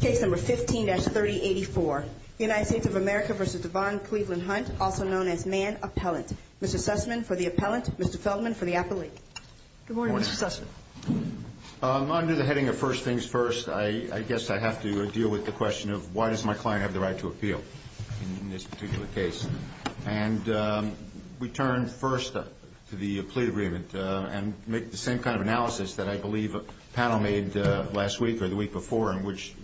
Case number 15-3084, United States of America v. Devon Cleveland Hunt, also known as Man Appellant. Mr. Sussman for the appellant, Mr. Feldman for the appellate. Good morning, Mr. Sussman. Under the heading of first things first, I guess I have to deal with the question of why does my client have the right to appeal in this particular case? And we turn first to the plea agreement and make the same kind of analysis that I believe a panel made last week or the week before in which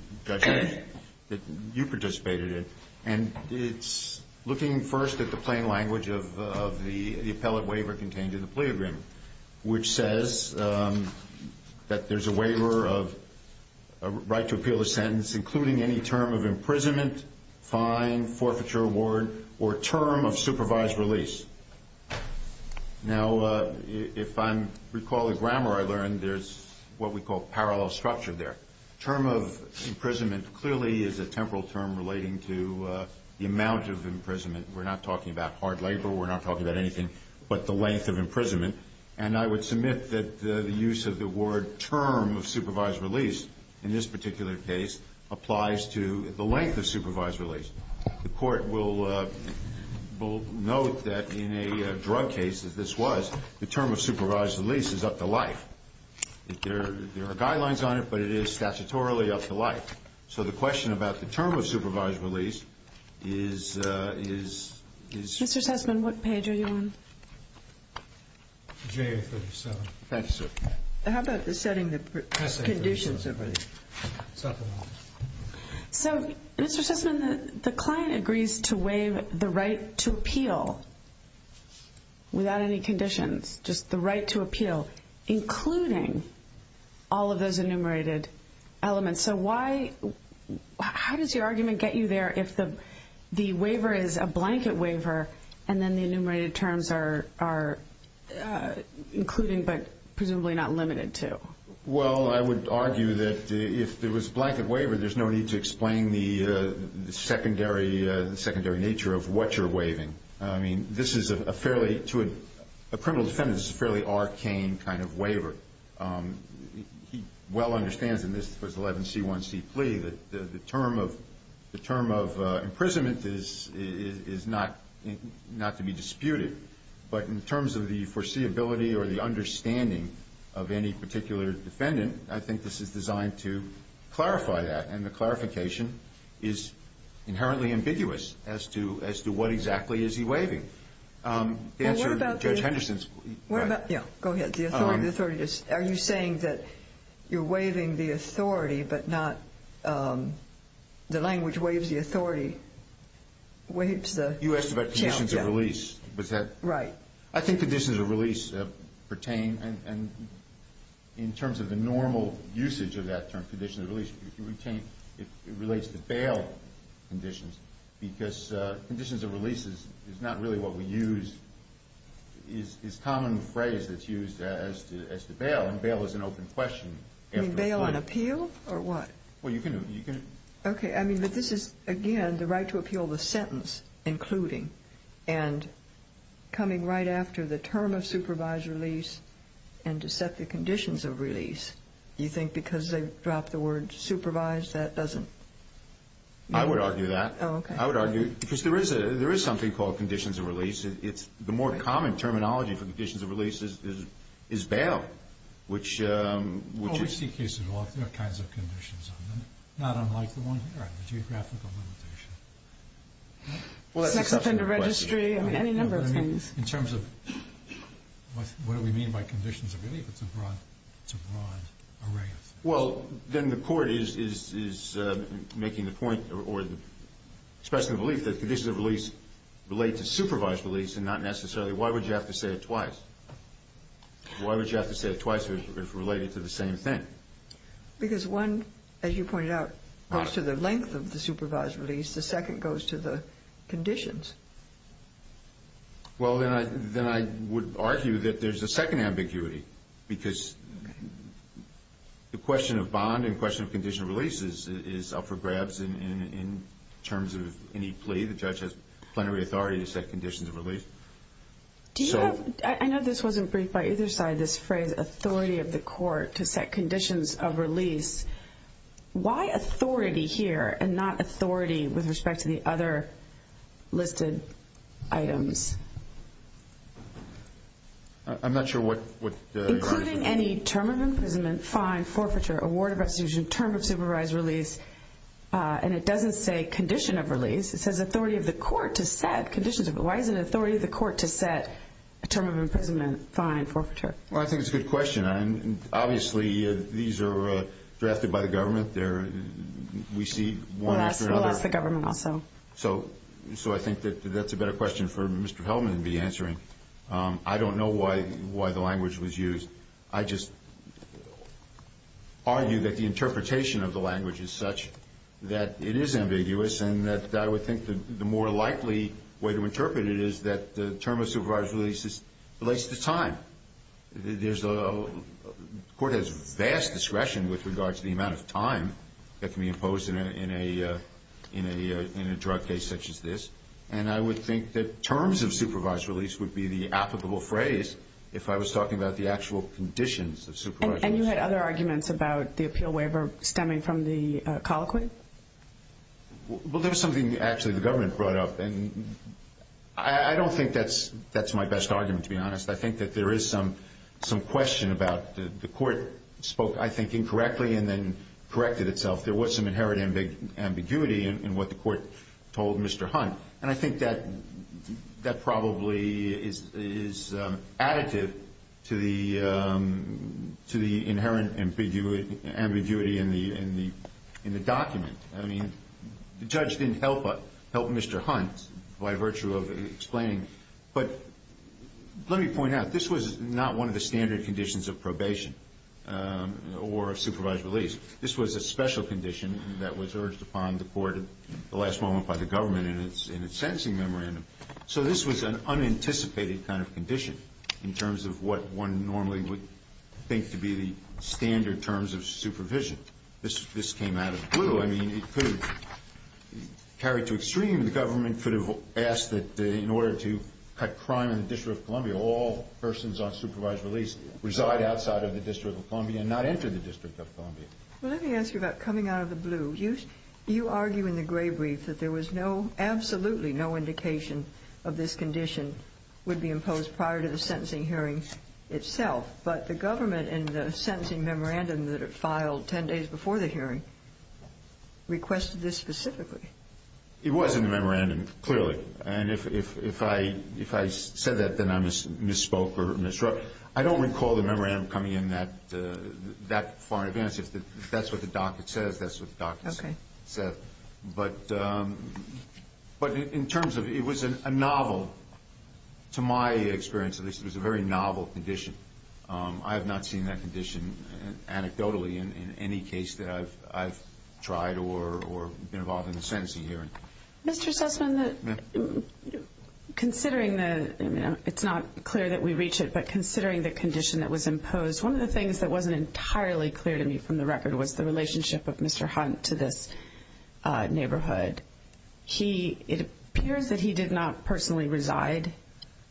you participated in. And it's looking first at the plain language of the appellate waiver contained in the plea agreement, which says that there's a waiver of right to appeal the sentence, including any term of imprisonment, fine, forfeiture, award, or term of supervised release. Now, if I recall the grammar I learned, there's what we call parallel structure there. Term of imprisonment clearly is a temporal term relating to the amount of imprisonment. We're not talking about hard labor. We're not talking about anything but the length of imprisonment. And I would submit that the use of the word term of supervised release in this particular case applies to the length of supervised release. The court will note that in a drug case, as this was, the term of supervised release is up to life. There are guidelines on it, but it is statutorily up to life. So the question about the term of supervised release is – Mr. Sussman, what page are you on? JA-37. Thank you, sir. How about setting the conditions of release? It's up in the office. So, Mr. Sussman, the client agrees to waive the right to appeal without any conditions, just the right to appeal, including all of those enumerated elements. So why – how does your argument get you there if the waiver is a blanket waiver and then the enumerated terms are including but presumably not limited to? Well, I would argue that if it was a blanket waiver, there's no need to explain the secondary nature of what you're waiving. I mean, this is a fairly – to a criminal defendant, this is a fairly arcane kind of waiver. He well understands in this 11C1C plea that the term of imprisonment is not to be disputed. But in terms of the foreseeability or the understanding of any particular defendant, I think this is designed to clarify that. And the clarification is inherently ambiguous as to what exactly is he waiving. The answer to Judge Henderson's – What about – yeah, go ahead. The authority is – are you saying that you're waiving the authority but not – the language waives the authority waives the – You asked about conditions of release. Was that – Right. I think conditions of release pertain, and in terms of the normal usage of that term, conditions of release, it relates to bail conditions because conditions of release is not really what we use. It's a common phrase that's used as to bail, and bail is an open question. You mean bail on appeal or what? Well, you can – Okay. I mean, but this is, again, the right to appeal the sentence including and coming right after the term of supervised release and to set the conditions of release. Do you think because they dropped the word supervised that doesn't – I would argue that. Oh, okay. I would argue because there is something called conditions of release. It's the more common terminology for conditions of release is bail, which is – Well, we see cases of all kinds of conditions on them, not unlike the one here, the geographical limitation. Well, that's a separate question. Sex offender registry, I mean, any number of things. In terms of what do we mean by conditions of release, it's a broad array of things. Well, then the court is making the point or expressing the belief that conditions of release relate to supervised release and not necessarily – why would you have to say it twice? Why would you have to say it twice if related to the same thing? Because one, as you pointed out, goes to the length of the supervised release. The second goes to the conditions. Well, then I would argue that there's a second ambiguity because the question of bond and question of condition of release is up for grabs in terms of any plea. The judge has plenary authority to set conditions of release. Do you have – I know this wasn't briefed by either side, this phrase, authority of the court to set conditions of release. Why authority here and not authority with respect to the other listed items? I'm not sure what your answer is. Including any term of imprisonment, fine, forfeiture, award of restitution, term of supervised release. And it doesn't say condition of release. It says authority of the court to set conditions of release. Why isn't it authority of the court to set a term of imprisonment, fine, forfeiture? Well, I think it's a good question. Obviously, these are drafted by the government. We see one after another. It will ask the government also. So I think that that's a better question for Mr. Hellman to be answering. I don't know why the language was used. I just argue that the interpretation of the language is such that it is ambiguous and that I would think the more likely way to interpret it is that the term of supervised release relates to time. The court has vast discretion with regard to the amount of time that can be imposed in a drug case such as this. And I would think that terms of supervised release would be the applicable phrase if I was talking about the actual conditions of supervision. And you had other arguments about the appeal waiver stemming from the colloquy? Well, there was something actually the government brought up. And I don't think that's my best argument, to be honest. I think that there is some question about the court spoke, I think, incorrectly and then corrected itself. There was some inherent ambiguity in what the court told Mr. Hunt. And I think that probably is additive to the inherent ambiguity in the document. I mean, the judge didn't help Mr. Hunt by virtue of explaining. But let me point out, this was not one of the standard conditions of probation or of supervised release. This was a special condition that was urged upon the court at the last moment by the government in its sentencing memorandum. So this was an unanticipated kind of condition in terms of what one normally would think to be the standard terms of supervision. This came out of the blue. I mean, it could have carried to extreme. The government could have asked that in order to cut crime in the District of Columbia, all persons on supervised release reside outside of the District of Columbia and not enter the District of Columbia. Well, let me ask you about coming out of the blue. You argue in the gray brief that there was no, absolutely no indication of this condition would be imposed prior to the sentencing hearing itself. But the government in the sentencing memorandum that it filed 10 days before the hearing requested this specifically. It was in the memorandum, clearly. And if I said that, then I misspoke or misread. I don't recall the memorandum coming in that far in advance. If that's what the docket says, that's what the docket said. But in terms of, it was a novel, to my experience at least, it was a very novel condition. I have not seen that condition anecdotally in any case that I've tried or been involved in a sentencing hearing. Mr. Sussman, considering the, it's not clear that we reach it, but considering the condition that was imposed, one of the things that wasn't entirely clear to me from the record was the relationship of Mr. Hunt to this neighborhood. It appears that he did not personally reside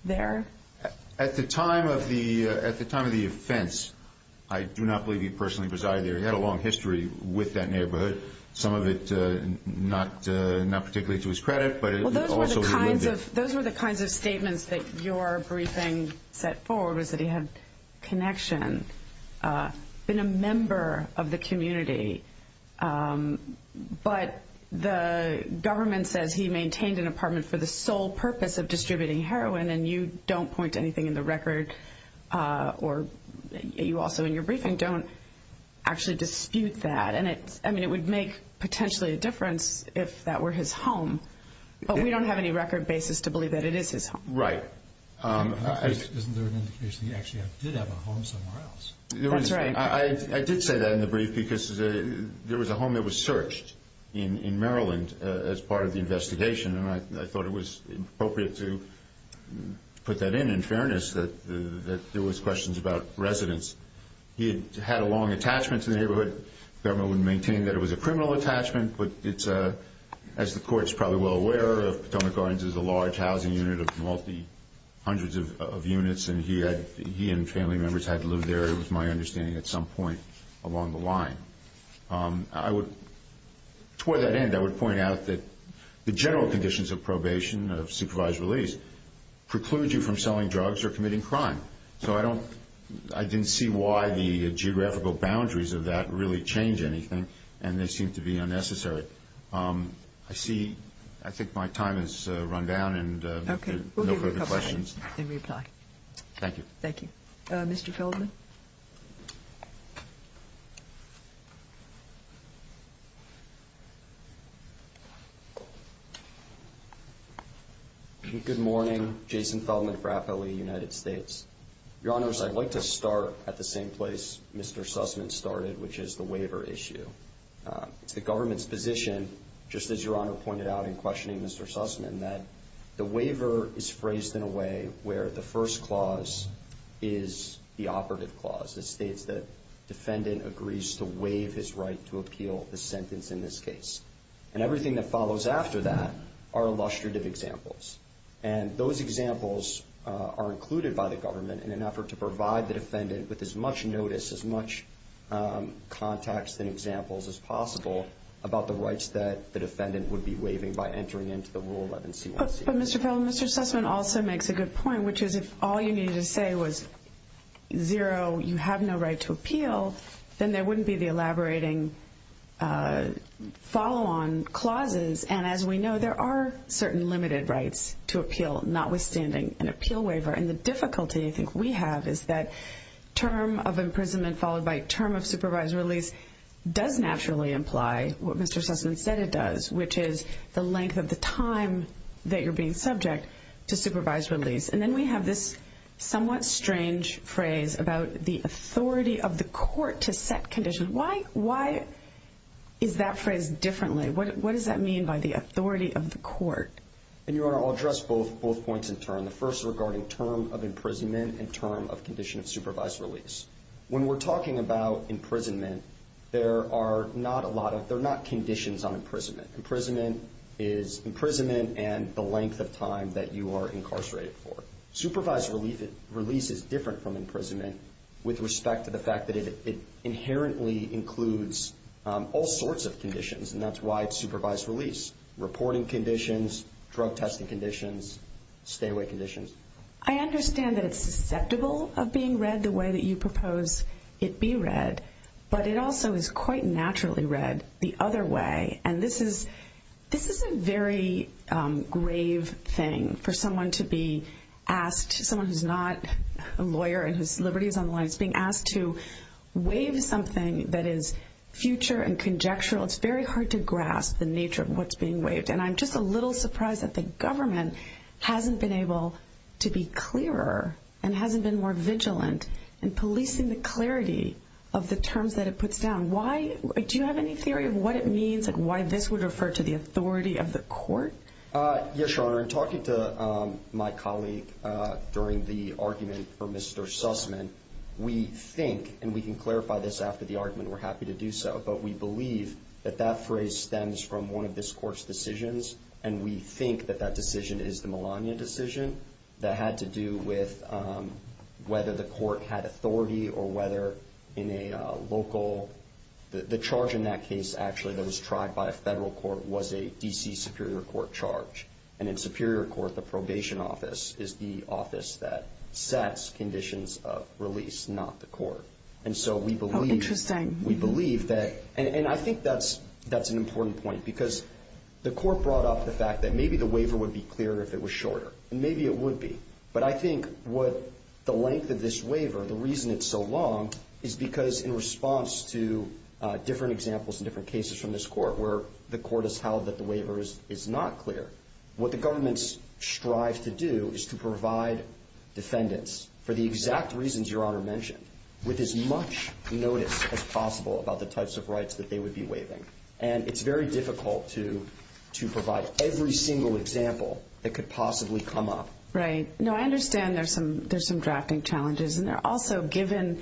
there. At the time of the offense, I do not believe he personally resided there. He had a long history with that neighborhood, some of it not particularly to his credit. Those were the kinds of statements that your briefing set forward, was that he had connection, been a member of the community. But the government says he maintained an apartment for the sole purpose of distributing heroin, and you don't point to anything in the record, or you also in your briefing don't actually dispute that. I mean, it would make potentially a difference if that were his home, but we don't have any record basis to believe that it is his home. Right. Isn't there an indication that he actually did have a home somewhere else? That's right. I did say that in the brief because there was a home that was searched in Maryland as part of the investigation, and I thought it was appropriate to put that in in fairness that there was questions about residence. He had had a long attachment to the neighborhood. The government would maintain that it was a criminal attachment, but as the court is probably well aware, Potomac Gardens is a large housing unit of multi-hundreds of units, and he and family members had to live there, it was my understanding, at some point along the line. Toward that end, I would point out that the general conditions of probation, of supervised release, preclude you from selling drugs or committing crime. So I didn't see why the geographical boundaries of that really change anything, and they seem to be unnecessary. I think my time has run down and no further questions. Okay. We'll give you a couple of minutes in reply. Thank you. Thank you. Mr. Feldman? Mr. Feldman? Good morning. Jason Feldman for FLE United States. Your Honors, I'd like to start at the same place Mr. Sussman started, which is the waiver issue. It's the government's position, just as Your Honor pointed out in questioning Mr. Sussman, that the waiver is phrased in a way where the first clause is the operative clause. It states that defendant agrees to waive his right to appeal the sentence in this case. And everything that follows after that are illustrative examples. And those examples are included by the government in an effort to provide the defendant with as much notice, as much context and examples as possible, about the rights that the defendant would be waiving by entering into the Rule 11C1C. But Mr. Feldman, Mr. Sussman also makes a good point, which is if all you needed to say was zero, you have no right to appeal, then there wouldn't be the elaborating follow-on clauses. And as we know, there are certain limited rights to appeal, notwithstanding an appeal waiver. And the difficulty I think we have is that term of imprisonment followed by term of supervised release does naturally imply what Mr. Sussman said it does, which is the length of the time that you're being subject to supervised release. And then we have this somewhat strange phrase about the authority of the court to set conditions. Why is that phrase differently? What does that mean by the authority of the court? And, Your Honor, I'll address both points in turn. The first is regarding term of imprisonment and term of condition of supervised release. When we're talking about imprisonment, there are not a lot of conditions on imprisonment. Imprisonment is imprisonment and the length of time that you are incarcerated for. Supervised release is different from imprisonment with respect to the fact that it inherently includes all sorts of conditions, and that's why it's supervised release, reporting conditions, drug testing conditions, stay-away conditions. I understand that it's susceptible of being read the way that you propose it be read, but it also is quite naturally read the other way. And this is a very grave thing for someone to be asked, someone who's not a lawyer and whose liberty is on the line, is being asked to waive something that is future and conjectural. It's very hard to grasp the nature of what's being waived. And I'm just a little surprised that the government hasn't been able to be clearer and hasn't been more vigilant in policing the clarity of the terms that it puts down. Do you have any theory of what it means and why this would refer to the authority of the court? Yes, Your Honor. In talking to my colleague during the argument for Mr. Sussman, we think, and we can clarify this after the argument, we're happy to do so, but we believe that that phrase stems from one of this court's decisions, and we think that that decision is the Melania decision that had to do with whether the court had authority or whether in a local, the charge in that case actually that was tried by a federal court was a D.C. Superior Court charge. And in Superior Court, the probation office is the office that sets conditions of release, not the court. And so we believe that, and I think that's an important point, because the court brought up the fact that maybe the waiver would be clearer if it was shorter, and maybe it would be. But I think what the length of this waiver, the reason it's so long, is because in response to different examples and different cases from this court where the court has held that the waiver is not clear, what the government strives to do is to provide defendants for the exact reasons Your Honor mentioned, with as much notice as possible about the types of rights that they would be waiving. And it's very difficult to provide every single example that could possibly come up. Right. No, I understand there's some drafting challenges, and also given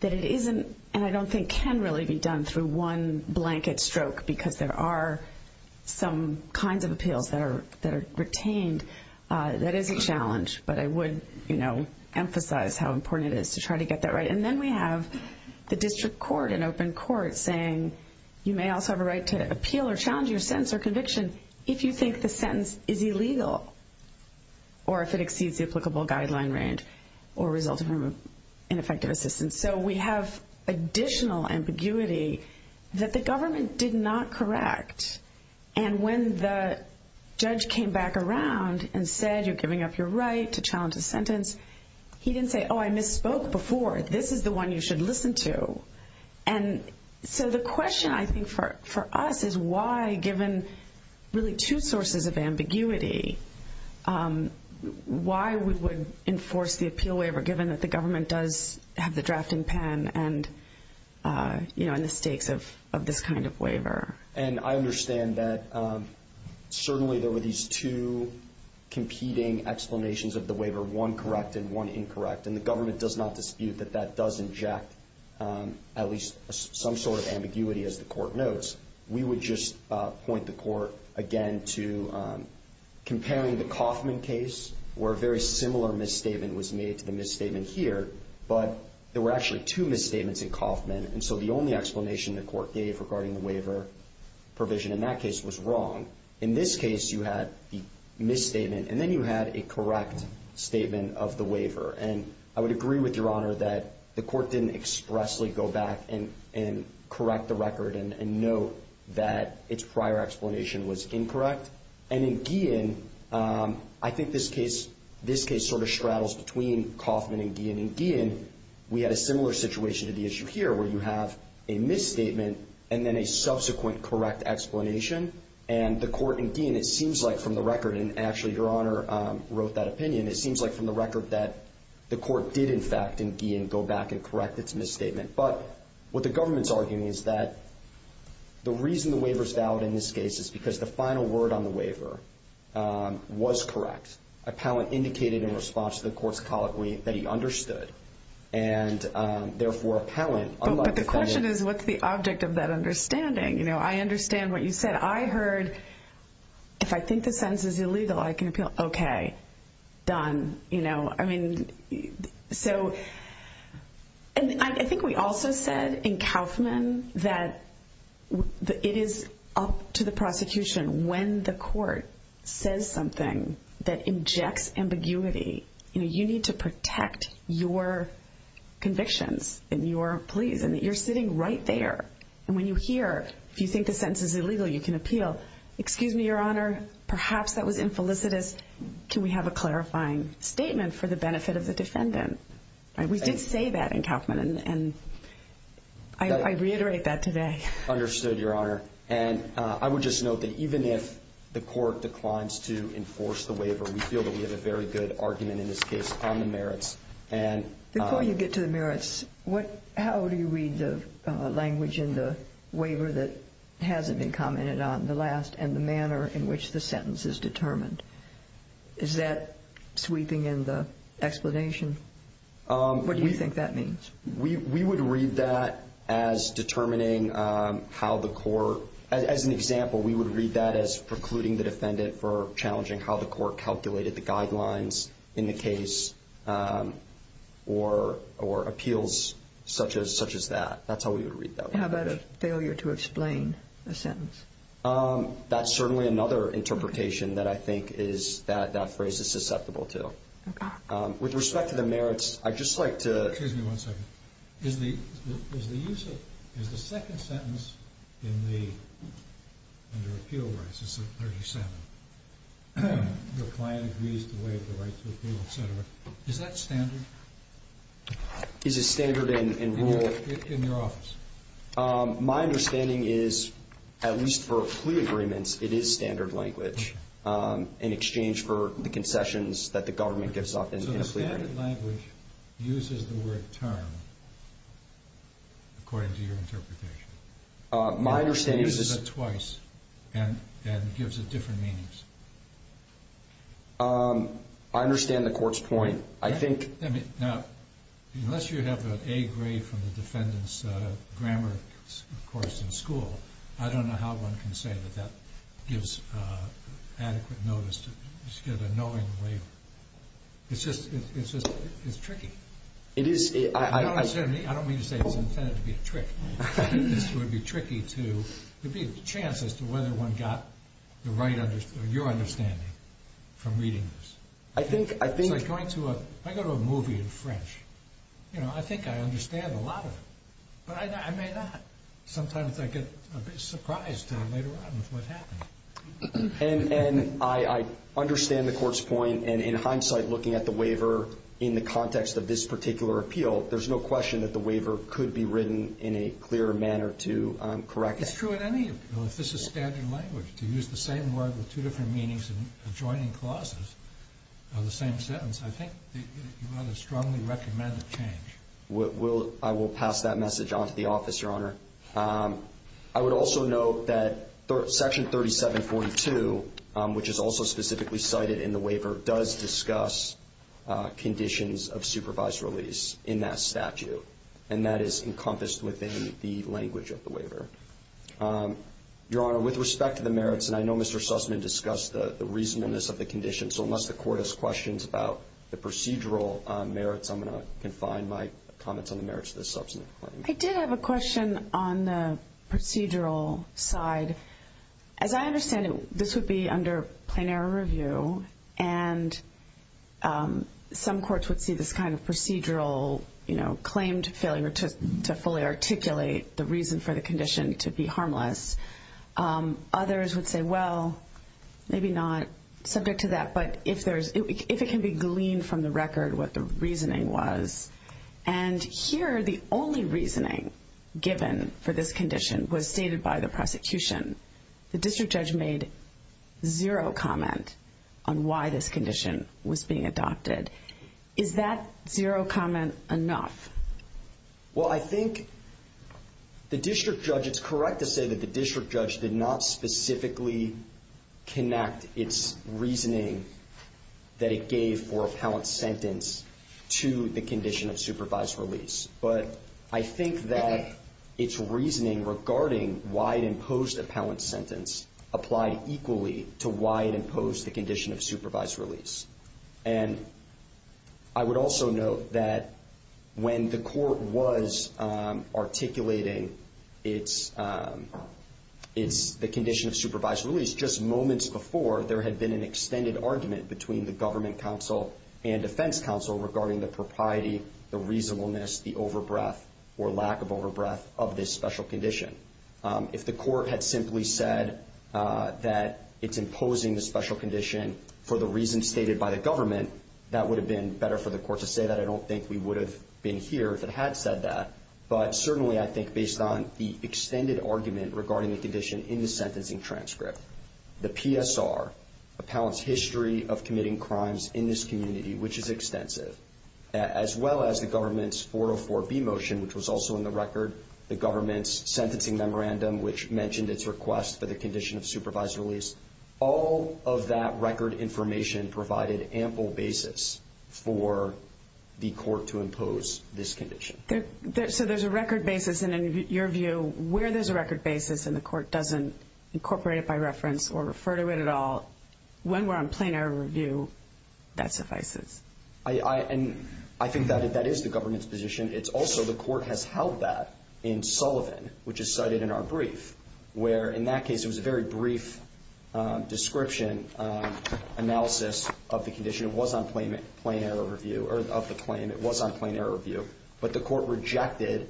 that it isn't, and I don't think can really be done through one blanket stroke because there are some kinds of appeals that are retained, that is a challenge. But I would emphasize how important it is to try to get that right. And then we have the district court, an open court, saying you may also have a right to appeal or challenge your sentence or conviction if you think the sentence is illegal, or if it exceeds the applicable guideline range, or results from ineffective assistance. So we have additional ambiguity that the government did not correct. And when the judge came back around and said you're giving up your right to challenge a sentence, he didn't say, oh, I misspoke before. This is the one you should listen to. And so the question, I think, for us is why, given really two sources of ambiguity, why we would enforce the appeal waiver given that the government does have the drafting pen and the stakes of this kind of waiver. And I understand that certainly there were these two competing explanations of the waiver, one correct and one incorrect. And the government does not dispute that that does inject at least some sort of ambiguity, as the court notes. We would just point the court, again, to comparing the Kauffman case, where a very similar misstatement was made to the misstatement here, but there were actually two misstatements in Kauffman. And so the only explanation the court gave regarding the waiver provision in that case was wrong. In this case, you had the misstatement, and then you had a correct statement of the waiver. And I would agree with Your Honor that the court didn't expressly go back and correct the record and note that its prior explanation was incorrect. And in Guillen, I think this case sort of straddles between Kauffman and Guillen. In Guillen, we had a similar situation to the issue here, where you have a misstatement and then a subsequent correct explanation. And the court in Guillen, it seems like from the record, and actually Your Honor wrote that opinion, it seems like from the record that the court did, in fact, in Guillen, go back and correct its misstatement. But what the government's arguing is that the reason the waiver is valid in this case is because the final word on the waiver was correct. Appellant indicated in response to the court's colloquy that he understood. And therefore, appellant, unlike the defendant. But the question is, what's the object of that understanding? You know, I understand what you said. I heard, if I think the sentence is illegal, I can appeal. Okay. Done. I think we also said in Kauffman that it is up to the prosecution when the court says something that injects ambiguity. You need to protect your convictions and your pleas. And you're sitting right there. And when you hear, if you think the sentence is illegal, you can appeal. Excuse me, Your Honor, perhaps that was infelicitous. Can we have a clarifying statement for the benefit of the defendant? We did say that in Kauffman, and I reiterate that today. Understood, Your Honor. And I would just note that even if the court declines to enforce the waiver, we feel that we have a very good argument in this case on the merits. Before you get to the merits, how do you read the language in the waiver that hasn't been commented on in the last, and the manner in which the sentence is determined? Is that sweeping in the explanation? What do you think that means? We would read that as determining how the court, as an example, we would read that as precluding the defendant for challenging how the court calculated the guidelines in the case or appeals such as that. That's how we would read that. How about a failure to explain a sentence? That's certainly another interpretation that I think is that that phrase is susceptible to. Okay. With respect to the merits, I'd just like to – Excuse me one second. Is the use of – is the second sentence in the – under appeal rights, it's 37. The client agrees to waive the right to appeal, et cetera. Is that standard? Is it standard in rule? In your office. My understanding is, at least for plea agreements, it is standard language in exchange for the concessions that the government gives up in a plea agreement. Standard language uses the word term according to your interpretation. My understanding is – It uses it twice and gives it different meanings. I understand the court's point. I think – Now, unless you have an A grade from the defendant's grammar course in school, I don't know how one can say that that gives adequate notice to – It's just – it's tricky. It is – I don't mean to say it's intended to be a trick. I think this would be tricky to – there'd be a chance as to whether one got the right – your understanding from reading this. I think – It's like going to a – if I go to a movie in French, you know, I think I understand a lot of it. But I may not. Sometimes I get a bit surprised later on with what happens. And I understand the court's point. And in hindsight, looking at the waiver in the context of this particular appeal, there's no question that the waiver could be written in a clearer manner to correct it. It's true in any appeal. If this is standard language, to use the same word with two different meanings and adjoining clauses on the same sentence, I think you've got to strongly recommend a change. I will pass that message on to the office, Your Honor. I would also note that Section 3742, which is also specifically cited in the waiver, does discuss conditions of supervised release in that statute. And that is encompassed within the language of the waiver. Your Honor, with respect to the merits, and I know Mr. Sussman discussed the reasonableness of the condition, so unless the court has questions about the procedural merits, I'm going to confine my comments on the merits of this substantive claim. I did have a question on the procedural side. As I understand it, this would be under plenary review, and some courts would see this kind of procedural claim to failure to fully articulate the reason for the condition to be harmless. Others would say, well, maybe not subject to that, but if it can be gleaned from the record what the reasoning was. And here, the only reasoning given for this condition was stated by the prosecution. The district judge made zero comment on why this condition was being adopted. Is that zero comment enough? Well, I think the district judge, it's correct to say that the district judge did not specifically connect its reasoning that it gave for appellant sentence to the condition of supervised release. But I think that its reasoning regarding why it imposed appellant sentence applied equally to why it imposed the condition of supervised release. And I would also note that when the court was articulating the condition of supervised release, just moments before, there had been an extended argument between the government counsel and defense counsel regarding the propriety, the reasonableness, the overbreath or lack of overbreath of this special condition. If the court had simply said that it's imposing the special condition for the reason stated by the government, that would have been better for the court to say that. I don't think we would have been here if it had said that. But certainly, I think based on the extended argument regarding the condition in the sentencing transcript, the PSR, Appellant's History of Committing Crimes in this Community, which is extensive, as well as the government's 404B motion, which was also in the record, the government's sentencing memorandum, which mentioned its request for the condition of supervised release, all of that record information provided ample basis for the court to impose this condition. So there's a record basis. And in your view, where there's a record basis and the court doesn't incorporate it by reference or refer to it at all, when we're on plenary review, that suffices? I think that is the government's position. It's also the court has held that in Sullivan, which is cited in our brief, where in that case it was a very brief description analysis of the condition. It was on plenary review, or of the claim. It was on plenary review. But the court rejected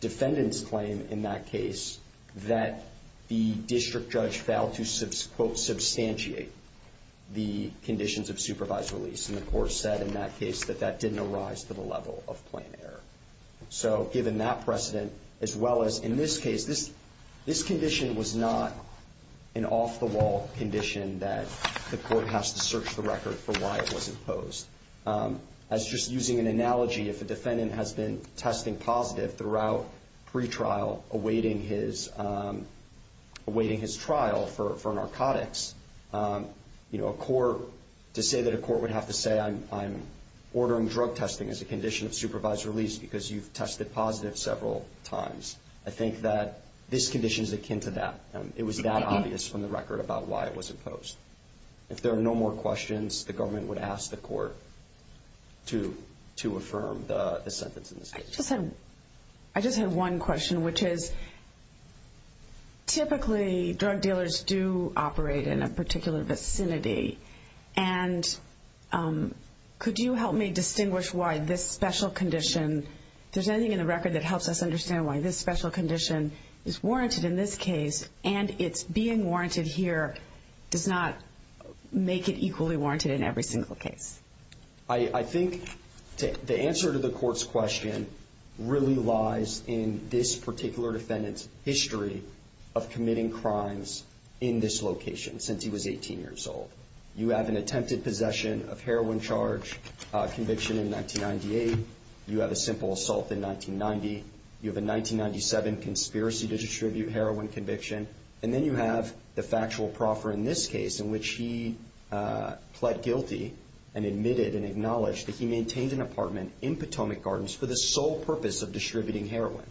defendant's claim in that case that the district judge failed to, quote, substantiate the conditions of supervised release. And the court said in that case that that didn't arise to the level of plain error. So given that precedent, as well as in this case, this condition was not an off-the-wall condition that the court has to search the record for why it was imposed. As just using an analogy, if a defendant has been testing positive throughout pretrial, awaiting his trial for narcotics, you know, a court, to say that a court would have to say, I'm ordering drug testing as a condition of supervised release because you've tested positive several times. I think that this condition is akin to that. It was that obvious from the record about why it was imposed. If there are no more questions, the government would ask the court to affirm the sentence in this case. I just had one question, which is, typically drug dealers do operate in a particular vicinity. And could you help me distinguish why this special condition, if there's anything in the record that helps us understand why this special condition is warranted in this case and it's being warranted here, does not make it equally warranted in every single case? I think the answer to the court's question really lies in this particular defendant's history of committing crimes in this location since he was 18 years old. You have an attempted possession of heroin charge conviction in 1998. You have a simple assault in 1990. You have a 1997 conspiracy to distribute heroin conviction. And then you have the factual proffer in this case in which he pled guilty and admitted and acknowledged that he maintained an apartment in Potomac Gardens for the sole purpose of distributing heroin.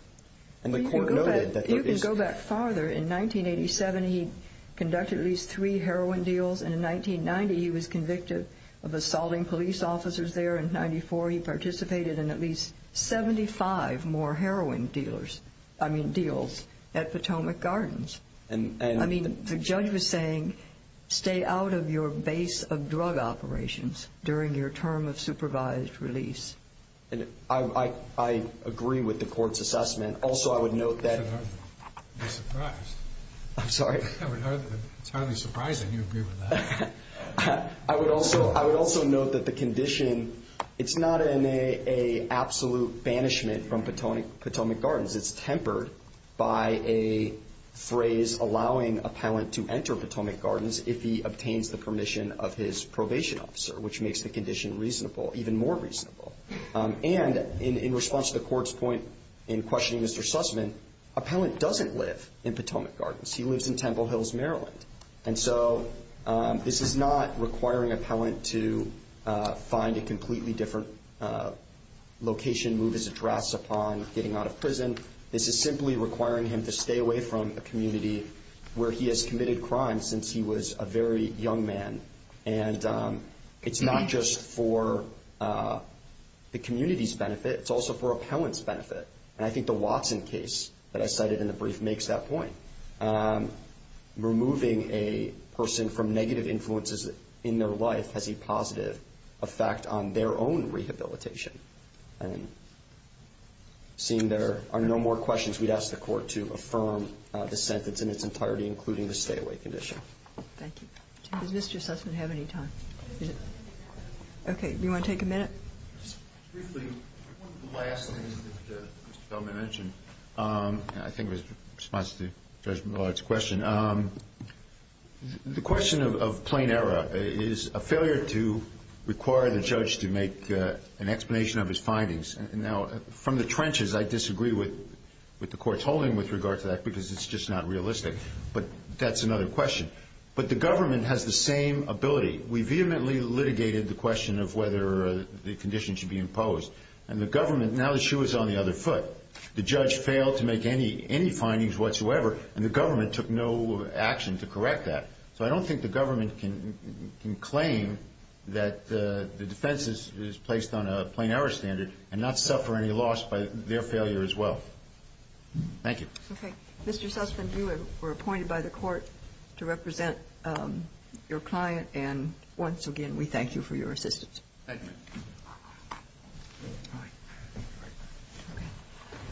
And the court noted that… You can go back farther. In 1987, he conducted at least three heroin deals. And in 1990, he was convicted of assaulting police officers there. In 1994, he participated in at least 75 more heroin deals at Potomac Gardens. The judge was saying, stay out of your base of drug operations during your term of supervised release. I agree with the court's assessment. Also, I would note that… I'm surprised. I'm sorry? It's hardly surprising you agree with that. I would also note that the condition, it's not an absolute banishment from Potomac Gardens. It's tempered by a phrase allowing appellant to enter Potomac Gardens if he obtains the permission of his probation officer, which makes the condition reasonable, even more reasonable. And in response to the court's point in questioning Mr. Sussman, appellant doesn't live in Potomac Gardens. He lives in Temple Hills, Maryland. And so this is not requiring appellant to find a completely different location, move his address upon getting out of prison. This is simply requiring him to stay away from a community where he has committed crimes since he was a very young man. And it's not just for the community's benefit. It's also for appellant's benefit. And I think the Watson case that I cited in the brief makes that point. Removing a person from negative influences in their life has a positive effect on their own rehabilitation. And seeing there are no more questions, we'd ask the Court to affirm the sentence in its entirety, including the stay-away condition. Thank you. Does Mr. Sussman have any time? Okay. Do you want to take a minute? Briefly, one of the last things that Mr. Feldman mentioned, I think it was in response to Judge Millard's question. The question of plain error is a failure to require the judge to make an explanation of his findings. Now, from the trenches, I disagree with the Court's holding with regard to that because it's just not realistic. But that's another question. But the government has the same ability. We vehemently litigated the question of whether the condition should be imposed. And the government, now that she was on the other foot, the judge failed to make any findings whatsoever, and the government took no action to correct that. So I don't think the government can claim that the defense is placed on a plain error standard and not suffer any loss by their failure as well. Thank you. Okay. Mr. Sussman, you were appointed by the Court to represent your client. And once again, we thank you for your assistance. Thank you. All right. Okay.